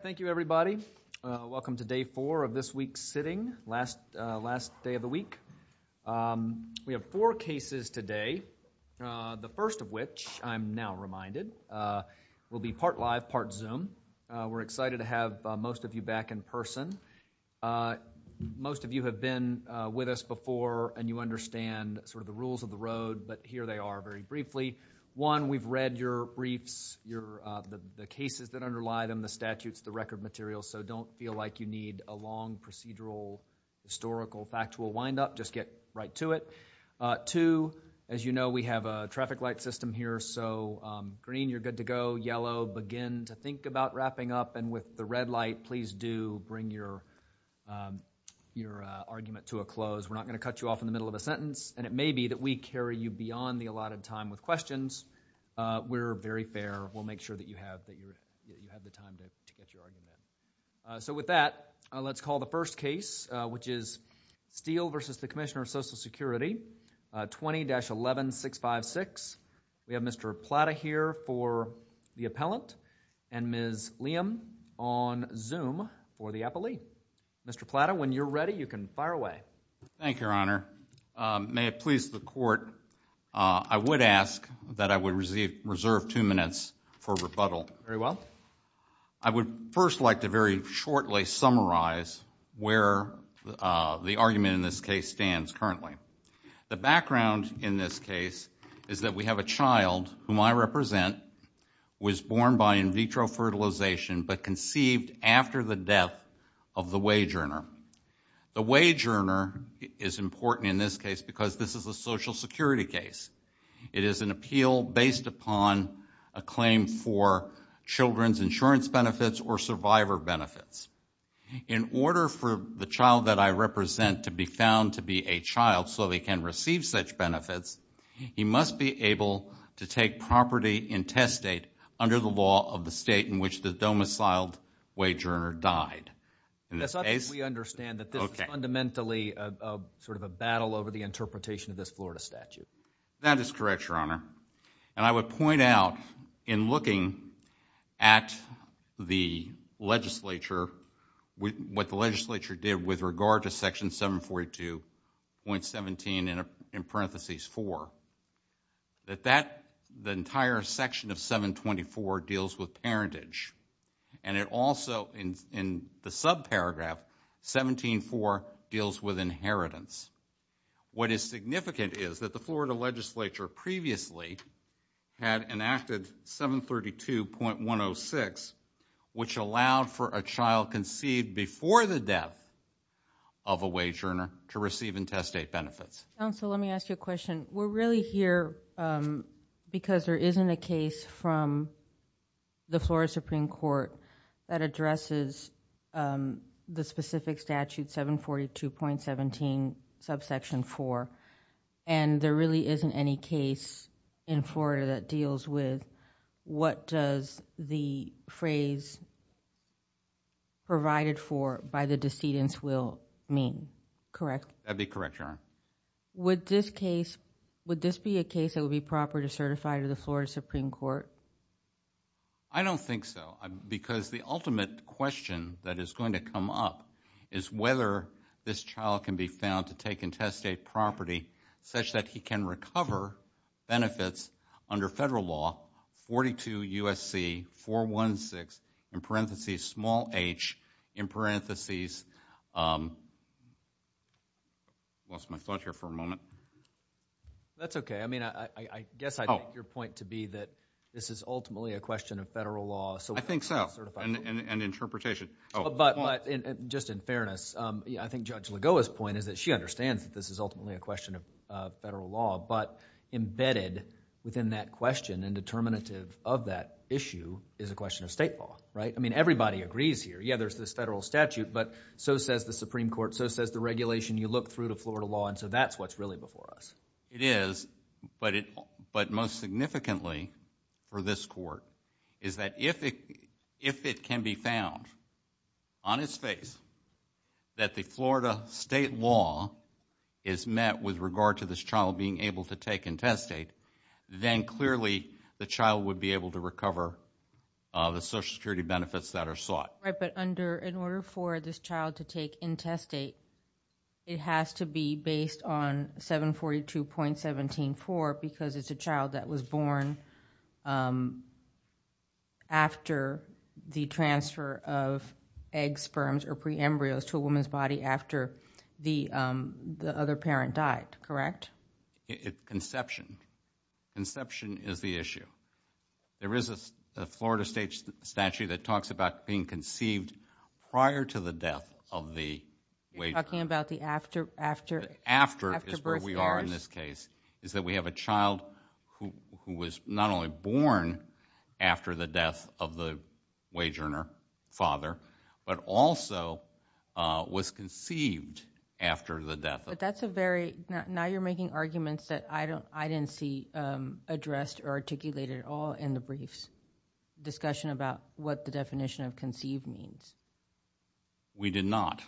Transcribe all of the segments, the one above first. Thank you everybody. Welcome to day four of this week's sitting, last day of the week. We have four cases today, the first of which I'm now reminded will be part live, part Zoom. We're excited to have most of you back in person. Most of you have been with us before and you understand sort of the rules of the road, but here they are very briefly. One, we've read your briefs, the cases that underlie them, the statutes, the record materials, so don't feel like you need a long procedural historical factual wind up, just get right to it. Two, as you know we have a traffic light system here, so green you're good to go, yellow begin to think about wrapping up, and with the red light please do bring your argument to a close. We're not going to cut you off in the middle of a sentence and it will only carry you beyond the allotted time with questions. We're very fair, we'll make sure that you have the time to get your argument. So with that, let's call the first case, which is Steele v. Commissioner of Social Security, 20-11656. We have Mr. Plata here for the appellant and Ms. Liam on Zoom for the appellee. Mr. Plata, when you're ready, you can fire away. Thank you, Your Honor. May it please the court, I would ask that I would reserve two minutes for rebuttal. Very well. I would first like to very shortly summarize where the argument in this case stands currently. The background in this case is that we have a child whom I represent was born by in vitro fertilization but conceived after the death of the wage earner is important in this case because this is a Social Security case. It is an appeal based upon a claim for children's insurance benefits or survivor benefits. In order for the child that I represent to be found to be a child so they can receive such benefits, he must be able to take property in test state under the law of the state in which the domiciled wage earner died. That's not that we understand that this is fundamentally sort of a battle over the interpretation of this Florida statute. That is correct, Your Honor. And I would point out in looking at the legislature, what the legislature did with regard to Section 742.17 in parenthesis four, that the entire section of 724 deals with parentage. And it also in the subparagraph 17.4 deals with inheritance. What is significant is that the Florida legislature previously had enacted 732.106 which allowed for a child conceived before the death of a wage earner to receive in test state benefits. Counsel, let me ask you a question. We're really here because there isn't a case from the Florida Supreme Court that addresses the specific statute 742.17 subsection four. And there really isn't any case in Florida that addresses that subsection, correct? That would be correct, Your Honor. Would this be a case that would be proper to certify to the Florida Supreme Court? I don't think so. Because the ultimate question that is going to come up is whether this child can be found to take in test state property such that he can recover benefits under federal law 42 USC 416 in parenthesis small h in parenthesis... I lost my thought here for a moment. That's okay. I mean, I guess I take your point to be that this is ultimately a question of federal law. I think so. And interpretation. But just in fairness, I think Judge Lagoa's point is that she understands that this is ultimately a question of federal law, but embedded within that question and determinative of that issue is a question of state law, right? I mean, everybody agrees here. Yeah, there's this federal statute, but so says the Supreme Court, so says the regulation. You look through the Florida law, and so that's what's really before us. It is, but most significantly for this court is that if it can be found on its face that the Florida state law is met with regard to this child being able to take in test state, then clearly the child would be able to recover the social security benefits that are sought. Right, but under, in order for this child to take in test state, it has to be based on 742.174 because it's a child that was born after the transfer of egg sperms or pre-embryos to a woman's body after the other parent died, correct? Conception. Conception is the issue. There is a Florida state statute that talks about being conceived prior to the death of the wage earner. You're talking about the after birth years? After is where we are in this case, is that we have a child who was not only born after the death of the wage earner father, but also was conceived after the death. But that's a very, now you're making arguments that I don't, I didn't see addressed or articulated at all in the briefs. Discussion about what the definition of conceived means. We did not.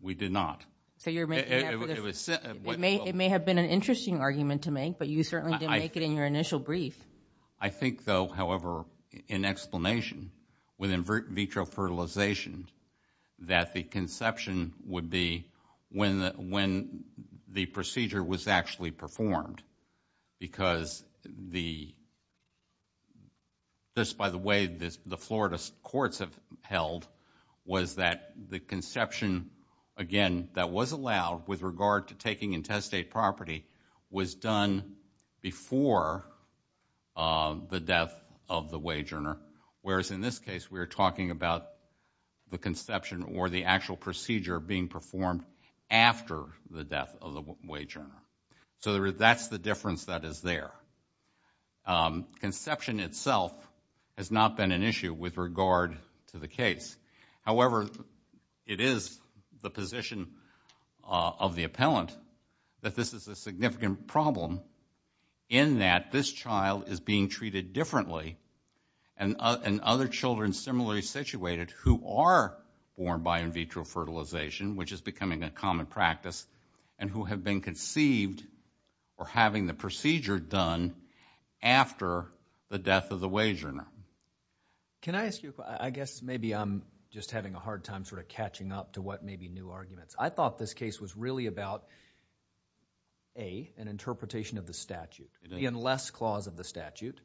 We did not. So you're making, it may have been an interesting argument to make, but you certainly didn't make it in your initial brief. I think though, however, in explanation with in vitro fertilization, that the conception would be when the procedure was actually performed because the, just by the way the Florida courts have held, was that the conception, again, that was allowed with regard to taking intestate property, was done before the death of the wage earner. You're talking about the conception or the actual procedure being performed after the death of the wage earner. So that's the difference that is there. Conception itself has not been an issue with regard to the case. However, it is the position of the appellant that this is a significant problem in that this child is being treated differently and other children similarly situated who are born by in vitro fertilization, which is becoming a common practice, and who have been conceived or having the procedure done after the death of the wage earner. Can I ask you, I guess maybe I'm just having a hard time sort of catching up to what may be new arguments. I thought this case was really about, A, an interpretation of the statute, the unless clause of the statute.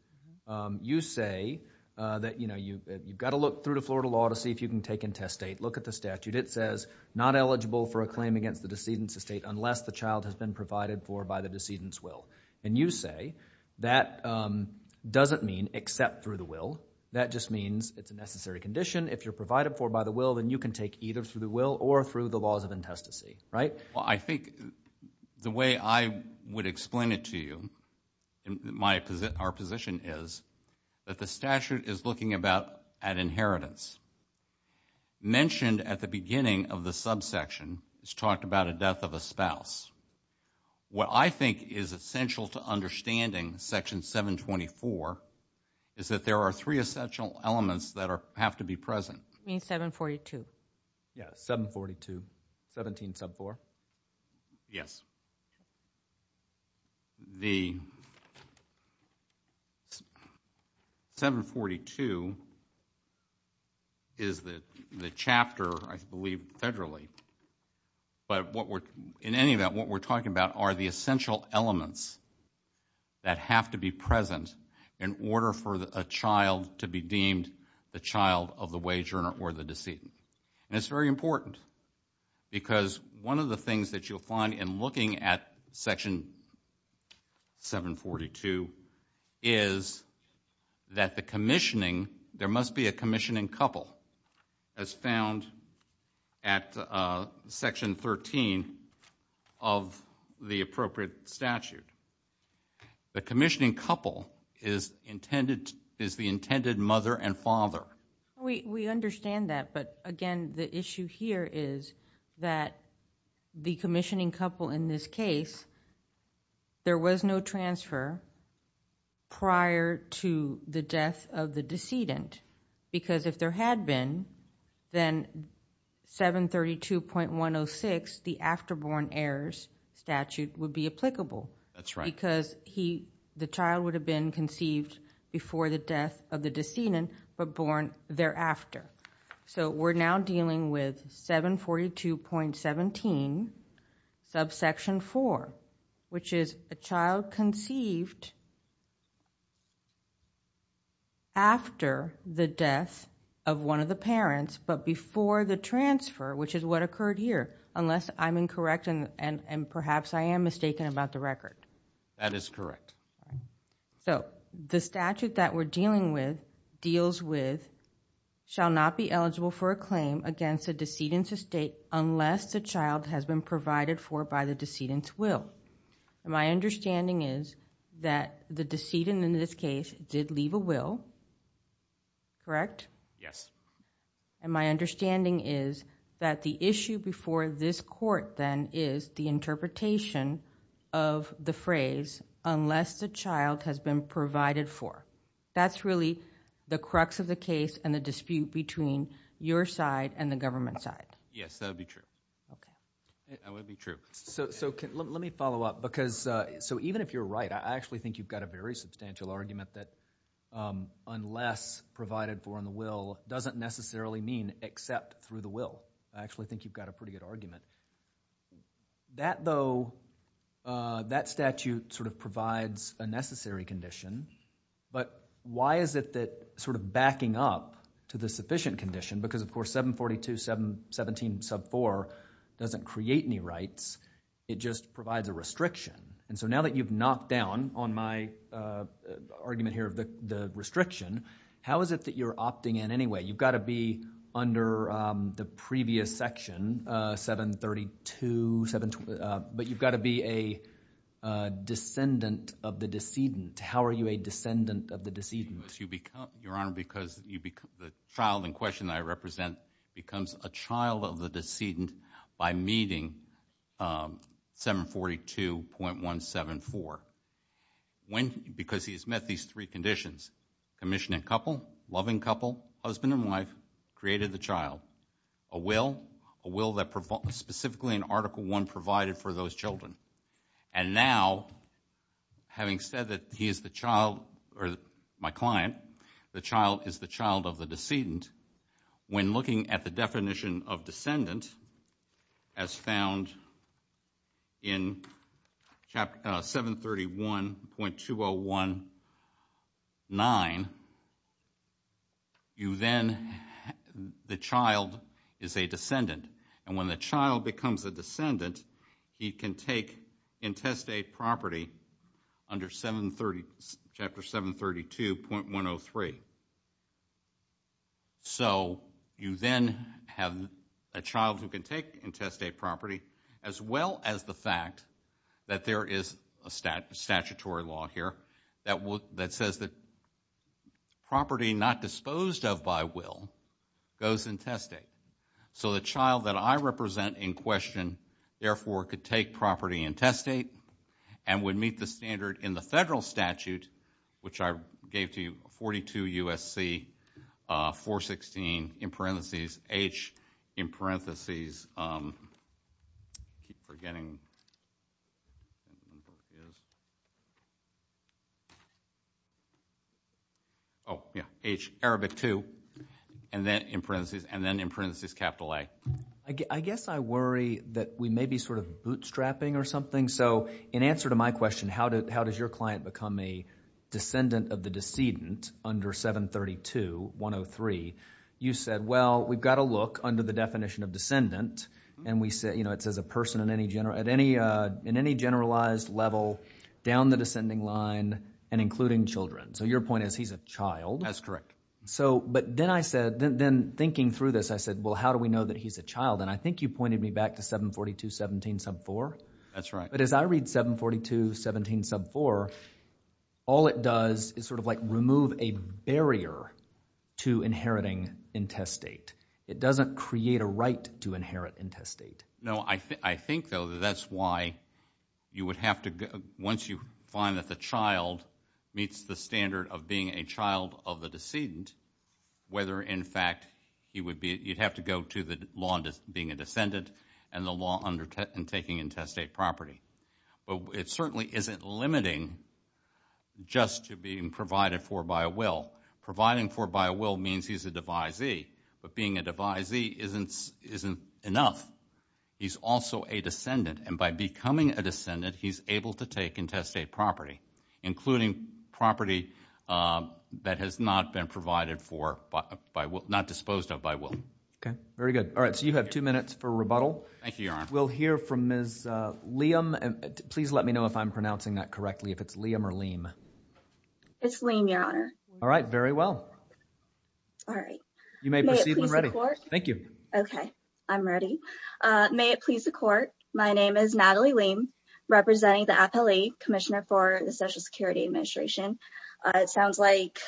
You say that you've got to look through the Florida law to see if you can take intestate. Look at the statute. It says, not eligible for a claim against the decedent's estate unless the child has been provided for by the decedent's will. And you say that doesn't mean except through the will. That just means it's a necessary condition. If you're provided for by the will, then you can take either through the will or through the laws of intestacy, right? Well, I think the way I would explain it to you, our position is that the statute is looking about an inheritance. Mentioned at the beginning of the subsection, it's talked about a death of a spouse. What I think is essential to understanding Section 724 is that there are three essential elements that have to be present. You mean 742? Yeah, 742. 17 sub 4. Yes. The 742 is the chapter, I believe, federally. But in any event, what we're talking about are the essential elements that have to be present in order for a child to be deemed the child of the wager or the decedent. And it's very important because one of the things that you'll find in looking at Section 742 is that the commissioning, there must be a commissioning couple as found at Section 13 of the appropriate statute. The commissioning couple is the intended mother and father. We understand that, but again, the issue here is that the commissioning couple in this case, there was no transfer prior to the death of the decedent. Because if there had been, then 732.106, the afterborn heirs statute, would be applicable because the child would have been conceived before the death of the decedent but born thereafter. So we're now dealing with 742.17 subsection 4, which is a child conceived after the death of one of the parents but before the transfer, which is what occurred here, unless I'm incorrect and perhaps I am mistaken about the record. That is correct. The statute that we're dealing with deals with, shall not be eligible for a claim against a decedent's estate unless the child has been provided for by the decedent's will. My understanding is that the decedent in this case did leave a will, correct? Yes. My understanding is that the issue before this court then is the interpretation of the phrase, unless the child has been provided for. That's really the crux of the case and the dispute between your side and the government side. Yes, that would be true. That would be true. Let me follow up. Even if you're right, I actually think you've got a very substantial argument that unless provided for in the will doesn't necessarily mean except through the statute provides a necessary condition. Why is it that backing up to the sufficient condition because of course 742.17.4 doesn't create any rights, it just provides a restriction. Now that you've knocked down on my argument here of the restriction, how is it that you're opting in anyway? You've got to be under the previous section, 732.17.4, but you've got to be a descendant of the decedent. How are you a descendant of the decedent? Your Honor, because the child in question that I represent becomes a child of the decedent by meeting 742.17.4. Because he's met these three conditions, commissioning couple, loving couple, husband and wife, created the child, a will, a will that specifically in Article 1 provided for those children. And now, having said that he is the child, or my client, the child is the child of the decedent, when looking at the definition of descendant as found in 731.201.9, you then, the child is a descendant. And when the child becomes a descendant, the can take intestate property under Chapter 732.103. So you then have a child who can take intestate property as well as the fact that there is a statutory law here that says that property not disposed of by will goes intestate. So the child that I represent in therefore could take property intestate and would meet the standard in the federal statute, which I gave to you, 42 U.S.C. 416, in parentheses, H, in parentheses, keep forgetting. Oh, yeah, H, Arabic 2, and then in parentheses, and then in parentheses capital A. I guess I worry that we may be sort of bootstrapping or something. So in answer to my question, how does your client become a descendant of the decedent under 732.103, you said, well, we've got to look under the definition of descendant, and it says a person in any generalized level down the descending line and including children. So your point is he's a child? That's correct. So, but then I said, then thinking through this, I said, well, how do we know that he's a child? And I think you pointed me back to 742.17 sub 4. That's right. But as I read 742.17 sub 4, all it does is sort of like remove a barrier to inheriting intestate. It doesn't create a right to inherit intestate. No, I think, though, that's why you would have to, once you find that the child meets the standard of being a child of the descendant, whether, in fact, he would be, you'd have to go to the law being a descendant and the law undertaking intestate property. But it certainly isn't limiting just to being provided for by a will. Providing for by a will means he's a devisee, but being a devisee isn't enough. He's also a descendant, and by becoming a descendant, he's able to take intestate property, including property that has not been provided for by will, not disposed of by will. Okay, very good. All right, so you have two minutes for rebuttal. Thank you, Your Honor. We'll hear from Ms. Liam. Please let me know if I'm pronouncing that correctly, if it's Liam or Leem. It's Leem, Your Honor. All right, very well. All right. You may proceed when ready. Thank you. Okay, I'm ready. May it please the Court, my name is Natalie Leem, representing the appellee, Commissioner for the Social Security Administration. It sounds like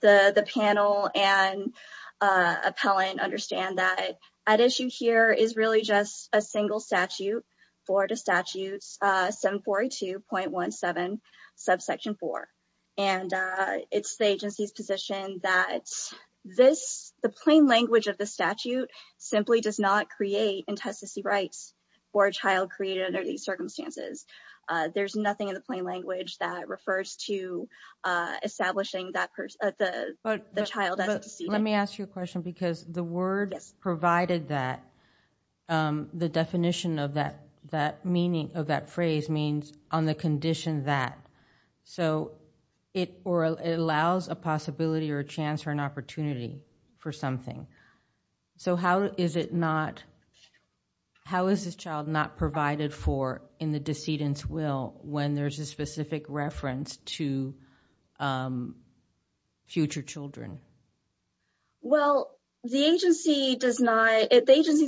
the panel and appellant understand that at issue here is really just a single statute, Florida Statutes 742.17, subsection 4. And it's the agency's position that the plain language of the statute simply does not create intestacy rights for a child created under these circumstances. There's nothing in the plain language that refers to establishing the child as a descendant. Let me ask you a question, because the word provided that, the definition of that phrase means on the condition that. So it allows a possibility or a chance or an opportunity for something. So how is it not, how is this child not provided for in the descendant's will when there's a specific reference to future children? Well, the agency's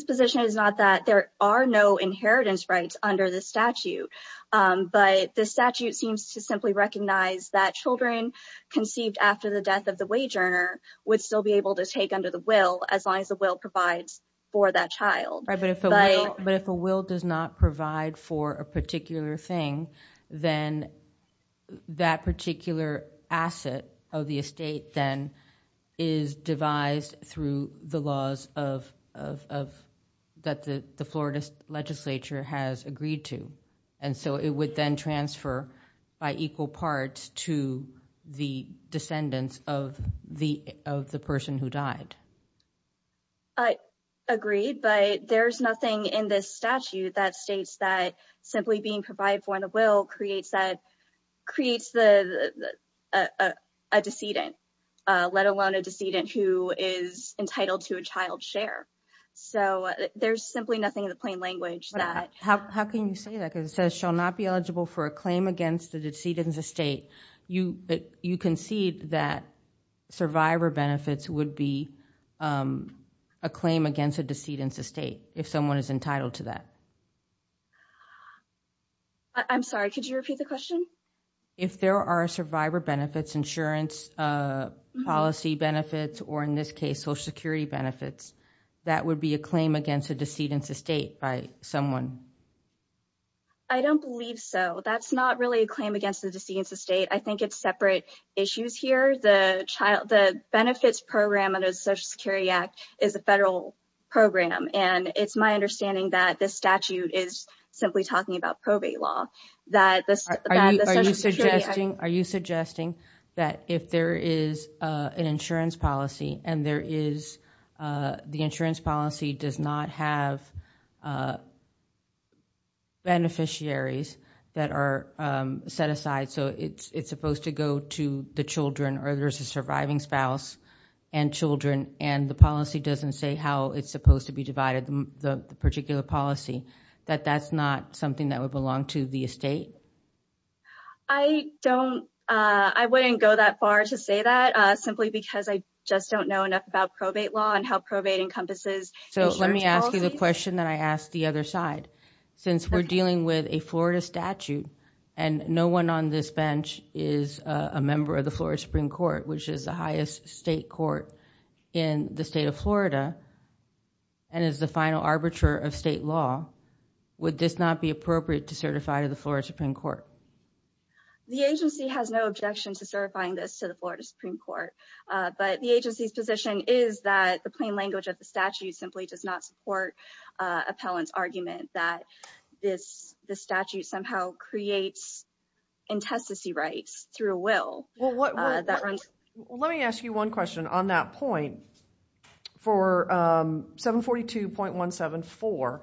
position is not that there are no inheritance rights under the statute. But the statute seems to simply recognize that children conceived after the death of the wage earner would still be able to take under the will as long as the will provides for that child. Right, but if a will does not provide for a particular thing, then that particular asset of the estate then is devised through the laws of, that the Florida legislature has agreed to. And so it would then transfer by equal part to the descendants of the person who died. I agree, but there's nothing in this statute that states that simply being provided for in a will creates a decedent, let alone a decedent who is entitled to a child's share. So there's simply nothing in the plain language that. How can you say that? Because it says shall not be eligible for a claim against the decedent's estate. You concede that survivor benefits would be a claim against a decedent's estate if someone is entitled to that. I'm sorry, could you repeat the question? If there are survivor benefits, insurance policy benefits, or in this case, Social Security benefits, that would be a claim against a decedent's estate by someone? I don't believe so. That's not really a claim against the decedent's estate. I think it's separate issues here. The benefits program under the Social Security Act is a federal program, and it's my understanding that this statute is simply talking about probate law. Are you suggesting that if there is an insurance policy, and the insurance policy does not have beneficiaries that are set aside, so it's supposed to go to the children or there's a surviving spouse and children, and the policy doesn't say how it's supposed to be divided, the particular policy, that that's not something that would belong to the estate? I wouldn't go that far to say that, simply because I just don't know enough about probate law and how probate encompasses insurance policy. Let me ask you the question that I asked the other side. Since we're dealing with a Florida statute, and no one on this bench is a member of the Florida Supreme Court, which is the highest state court in the state of Florida, and is the final arbiter of state law, would this not be appropriate to certify to the Florida Supreme Court? The agency has no objection to certifying this to the Florida Supreme Court, but the agency's position is that the plain language of the statute simply does not support appellant's argument that this statute somehow creates intestacy rights through a will. Well, let me ask you one question on that point. For 742.174,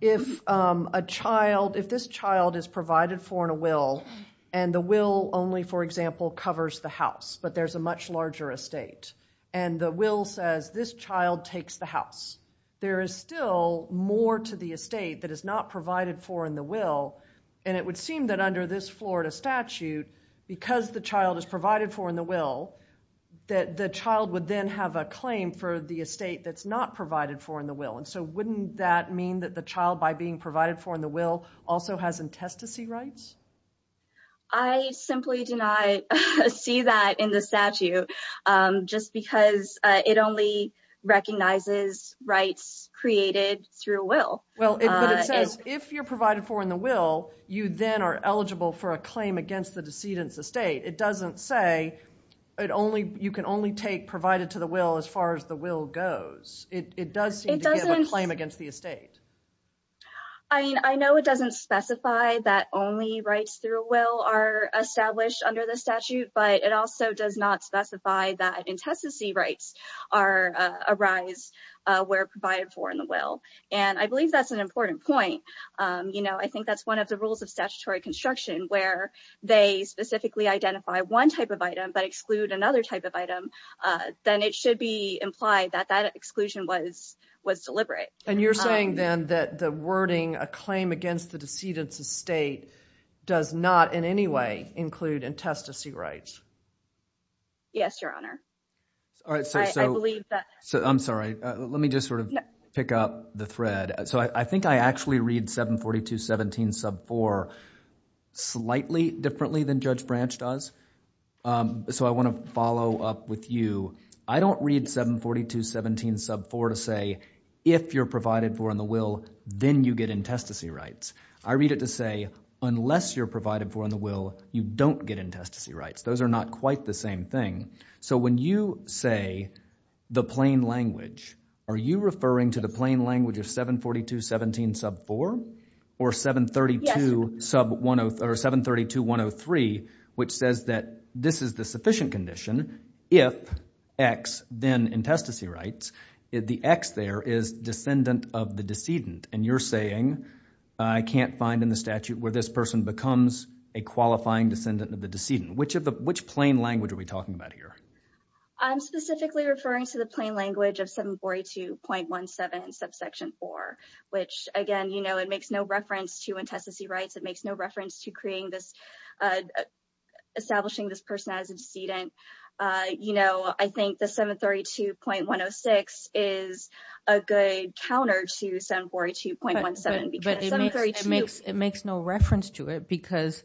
if this child is provided for in a will, and the will only, for example, covers the house, but there's a much larger estate, and the will says this child takes the house, there is still more to the estate that is not provided for in the will, and it would seem that under this Florida statute, because the child is provided for in the will, that the child would then have a claim for the estate that's not provided for in the will, and so wouldn't that mean that the child, by being provided for in the will, also has intestacy rights? I simply do not see that in the statute, just because it only recognizes rights created through a will. But it says if you're provided for in the will, you then are eligible for a claim against the decedent's estate. It doesn't say you can only take provided to the will as far as the will goes. It does seem to give a claim against the estate. I mean, I know it doesn't specify that only rights through a will are established under the statute, but it also does not specify that intestacy rights arise where provided for in the will, and I believe that's an important point. I think that's one of the rules of statutory construction where they specifically identify one type of item but exclude another type of item, then it should be implied that that exclusion was deliberate. And you're saying then that the wording, a claim against the decedent's estate, does not in any way include intestacy rights? Yes, Your Honor. All right, so I'm sorry. Let me just sort of pick up the thread. So I think I actually read 742.17 sub 4 slightly differently than Judge Branch does. So I want to follow up with you. I don't read 742.17 sub 4 to say if you're provided for in the will, then you get intestacy rights. I read it to say unless you're provided for in the will, you don't get intestacy rights. Those are not quite the same thing. So when you say the plain language, are you referring to the plain language of 742.17 sub 4 or 732.103 which says that this is the sufficient condition if X, then intestacy rights, the X there is descendant of the decedent. And you're saying I can't find in the statute where this person becomes a qualifying descendant of the decedent. Which plain language are we talking about here? I'm specifically referring to the plain language of 742.17 sub section 4, which again, you know, it makes no reference to intestacy rights. It makes no reference to establishing this person as a decedent. You know, I think the 732.106 is a good counter to 742.17. But it makes no reference to it because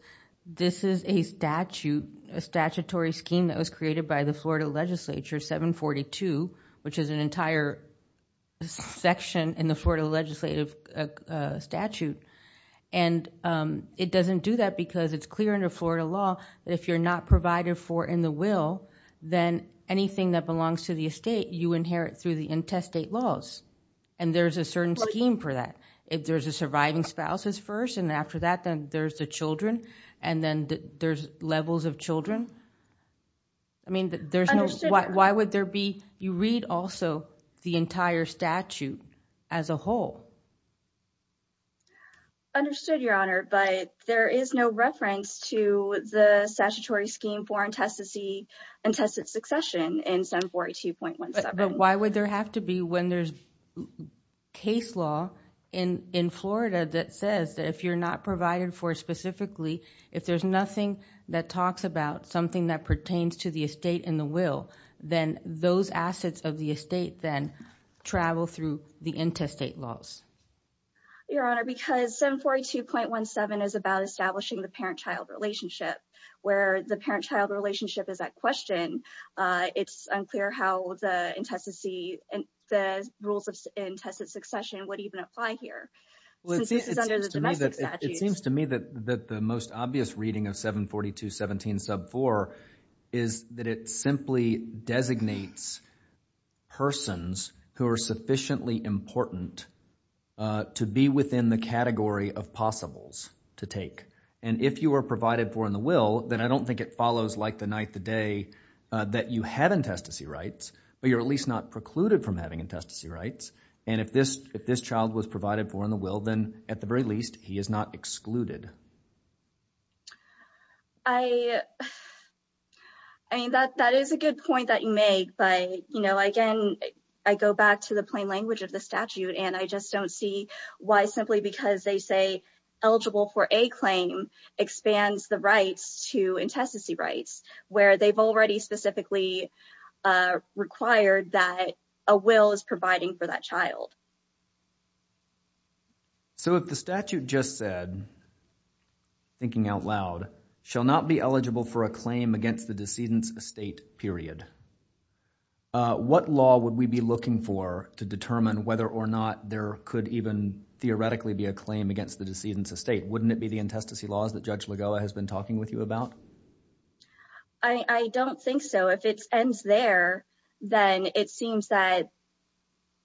this is a statute, a statutory scheme that was created by the Florida legislature, 742, which is an entire section in the Florida legislative statute. And it doesn't do that because it's clear in the Florida law that if you're not provided for in the will, then anything that belongs to the estate, you inherit through the intestate laws. And there's a certain scheme for that. If there's a surviving spouses first, and after that, then there's the children, and then there's levels of children. I mean, there's no, why would there be, you read also the entire statute as a whole. Understood, Your Honor, but there is no reference to the statutory scheme for intestacy and intestate succession in 742.17. But why would there have to be when there's case law in Florida that says that if you're not provided for specifically, if there's nothing that talks about something that pertains to the estate in the will, then those assets of the estate then travel through the intestate laws. Your Honor, because 742.17 is about establishing the parent-child relationship, where the parent-child relationship is at question, it's unclear how the intestacy, the rules of intestate succession would even apply here. It seems to me that the most obvious reading of 742.17 sub 4 is that it simply designates persons who are sufficiently important to be within the category of possibles to take. And if you are provided for in the will, then I don't think it follows like the night, the day that you have intestacy rights, but you're at least not precluded from having intestacy rights. And if this, if this child was provided for in the will, then at the very least, he is not excluded. I mean, that, that is a good point that you make, but, you know, again, I go back to the plain language of the statute and I just don't see why simply because they say eligible for a claim expands the rights to intestacy rights where they've already specifically, uh, required that a will is providing for that child. So if the statute just said, thinking out loud, shall not be eligible for a claim against the decedent's estate period, uh, what law would we be looking for to determine whether or not there could even theoretically be a claim against the decedent's estate? Wouldn't it be the intestacy laws that Judge Lagoa has been talking with you about? I don't think so. If it ends there, then it seems that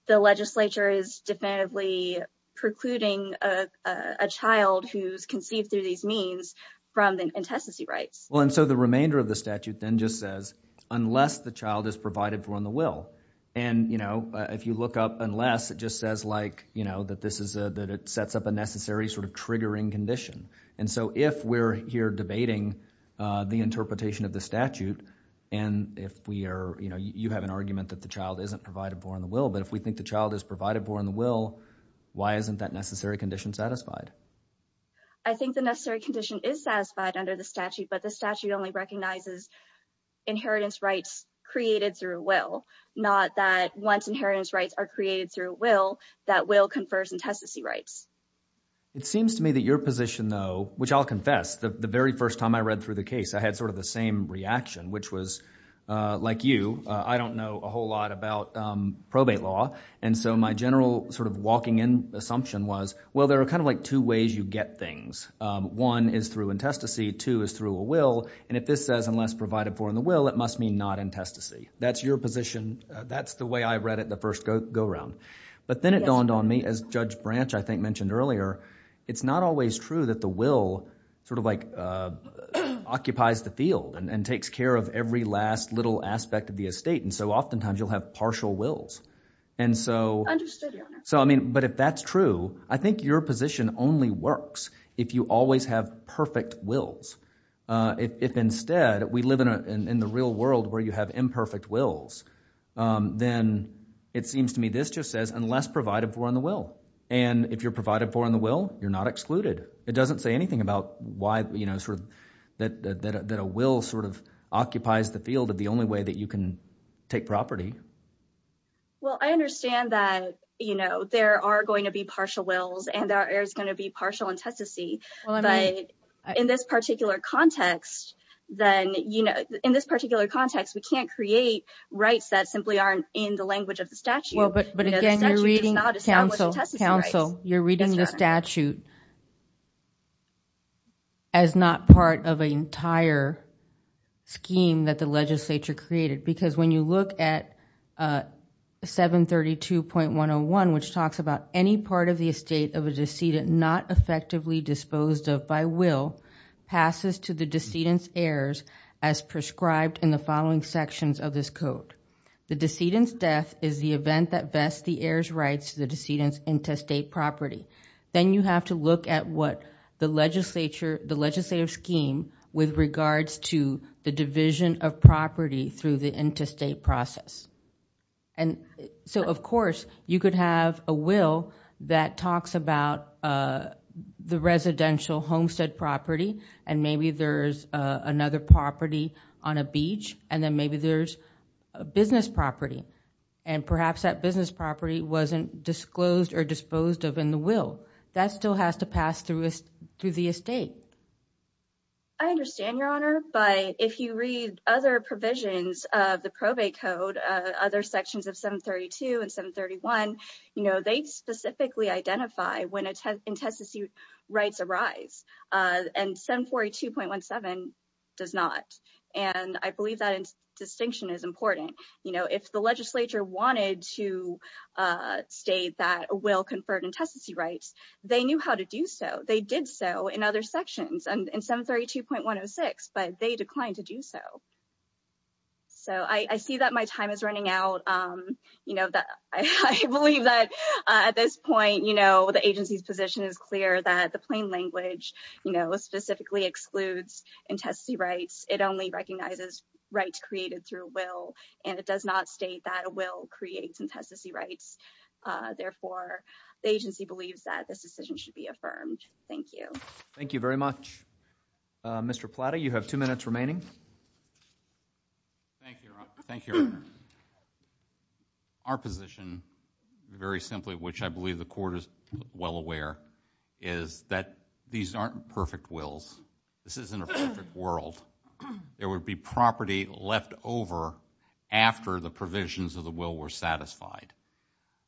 the legislature is definitively precluding a child who's conceived through these means from the intestacy rights. Well, and so the remainder of the statute then just says, unless the child is provided for in the will. And, you know, if you look up unless it just says like, you know, that this is a, that this is a triggering condition. And so if we're here debating, uh, the interpretation of the statute, and if we are, you know, you have an argument that the child isn't provided for in the will, but if we think the child is provided for in the will, why isn't that necessary condition satisfied? I think the necessary condition is satisfied under the statute, but the statute only recognizes inheritance rights created through a will, not that once inheritance rights are created through a will, that will confers intestacy rights. It seems to me that your position though, which I'll confess, the very first time I read through the case, I had sort of the same reaction, which was, uh, like you, uh, I don't know a whole lot about, um, probate law. And so my general sort of walking in assumption was, well, there are kind of like two ways you get things. Um, one is through intestacy, two is through a will, and if this says, unless provided for in the will, it must mean not intestacy. That's your position. That's the way I read it the first go, go round. But then it dawned on me as Judge Branch, I think mentioned earlier, it's not always true that the will sort of like, uh, occupies the field and takes care of every last little aspect of the estate. And so oftentimes you'll have partial wills. And so, so, I mean, but if that's true, I think your position only works if you always have perfect wills. Uh, if instead we live in a, in the real world where you have imperfect wills, um, then it just says unless provided for in the will. And if you're provided for in the will, you're not excluded. It doesn't say anything about why, you know, sort of that, that, that, that a will sort of occupies the field of the only way that you can take property. Well, I understand that, you know, there are going to be partial wills and there is going to be partial intestacy, but in this particular context, then, you know, in this particular context, we can't create rights that simply aren't in the language of the statute. But again, you're reading the statute as not part of an entire scheme that the legislature created because when you look at, uh, 732.101, which talks about any part of the estate of a decedent not effectively disposed of by will passes to the decedent's heirs as prescribed in the following sections of this code. The decedent's death is the event that vests the heir's rights to the decedent's interstate property. Then you have to look at what the legislature, the legislative scheme with regards to the division of property through the interstate process. And so of course you could have a will that talks about, uh, the residential homestead property and maybe there's, uh, another property on a beach and then maybe there's a business property and perhaps that business property wasn't disclosed or disposed of in the will. That still has to pass through the estate. I understand your honor, but if you read other provisions of the probate code, other sections of 732 and 731, you know, they specifically identify when a test, intestacy rights arise, uh, and 742.17 does not. And I believe that distinction is important. You know, if the legislature wanted to, uh, state that a will conferred intestacy rights, they knew how to do so. They did so in other sections and in 732.106, but they declined to do so. So I, I see that my time is running out. Um, you know, that I, I believe that, uh, at this point, you know, the agency's position is clear that the plain language, you know, specifically excludes intestacy rights. It only recognizes rights created through will, and it does not state that a will creates intestacy rights. Uh, therefore the agency believes that this decision should be affirmed. Thank you. Thank you very much. Uh, Mr. Plata, you have two minutes remaining. Thank you, Your Honor. Our position, very simply, which I believe the Court is well aware, is that these aren't perfect wills. This isn't a perfect world. There would be property left over after the provisions of the will were satisfied.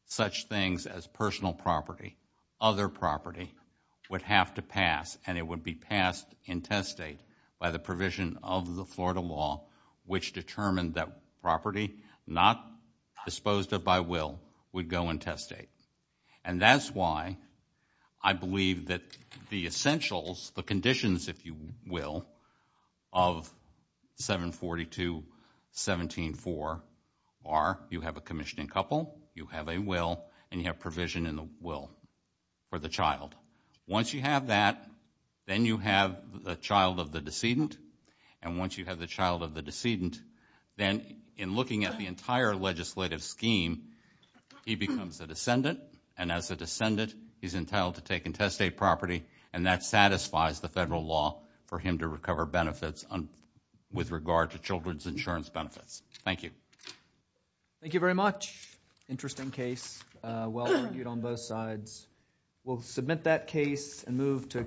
Such things as personal property, other property, would have to pass, and it would be passed intestate by the provision of the Florida law, which determined that property not disposed of by will would go intestate. And that's why I believe that the essentials, the conditions, if you will, of 742.17.4 are you have a commissioning couple, you have a will, and you have provision in the will for the child. Once you have that, then you have the child of the decedent, and once you have the child of the decedent, then in looking at the entire legislative scheme, he becomes a descendant, and as a descendant, he's entitled to take intestate property, and that satisfies the federal law for him to recover benefits with regard to children's insurance benefits. Thank you. Thank you very much. Interesting case. Uh, well argued on both sides. We'll submit that case and move to a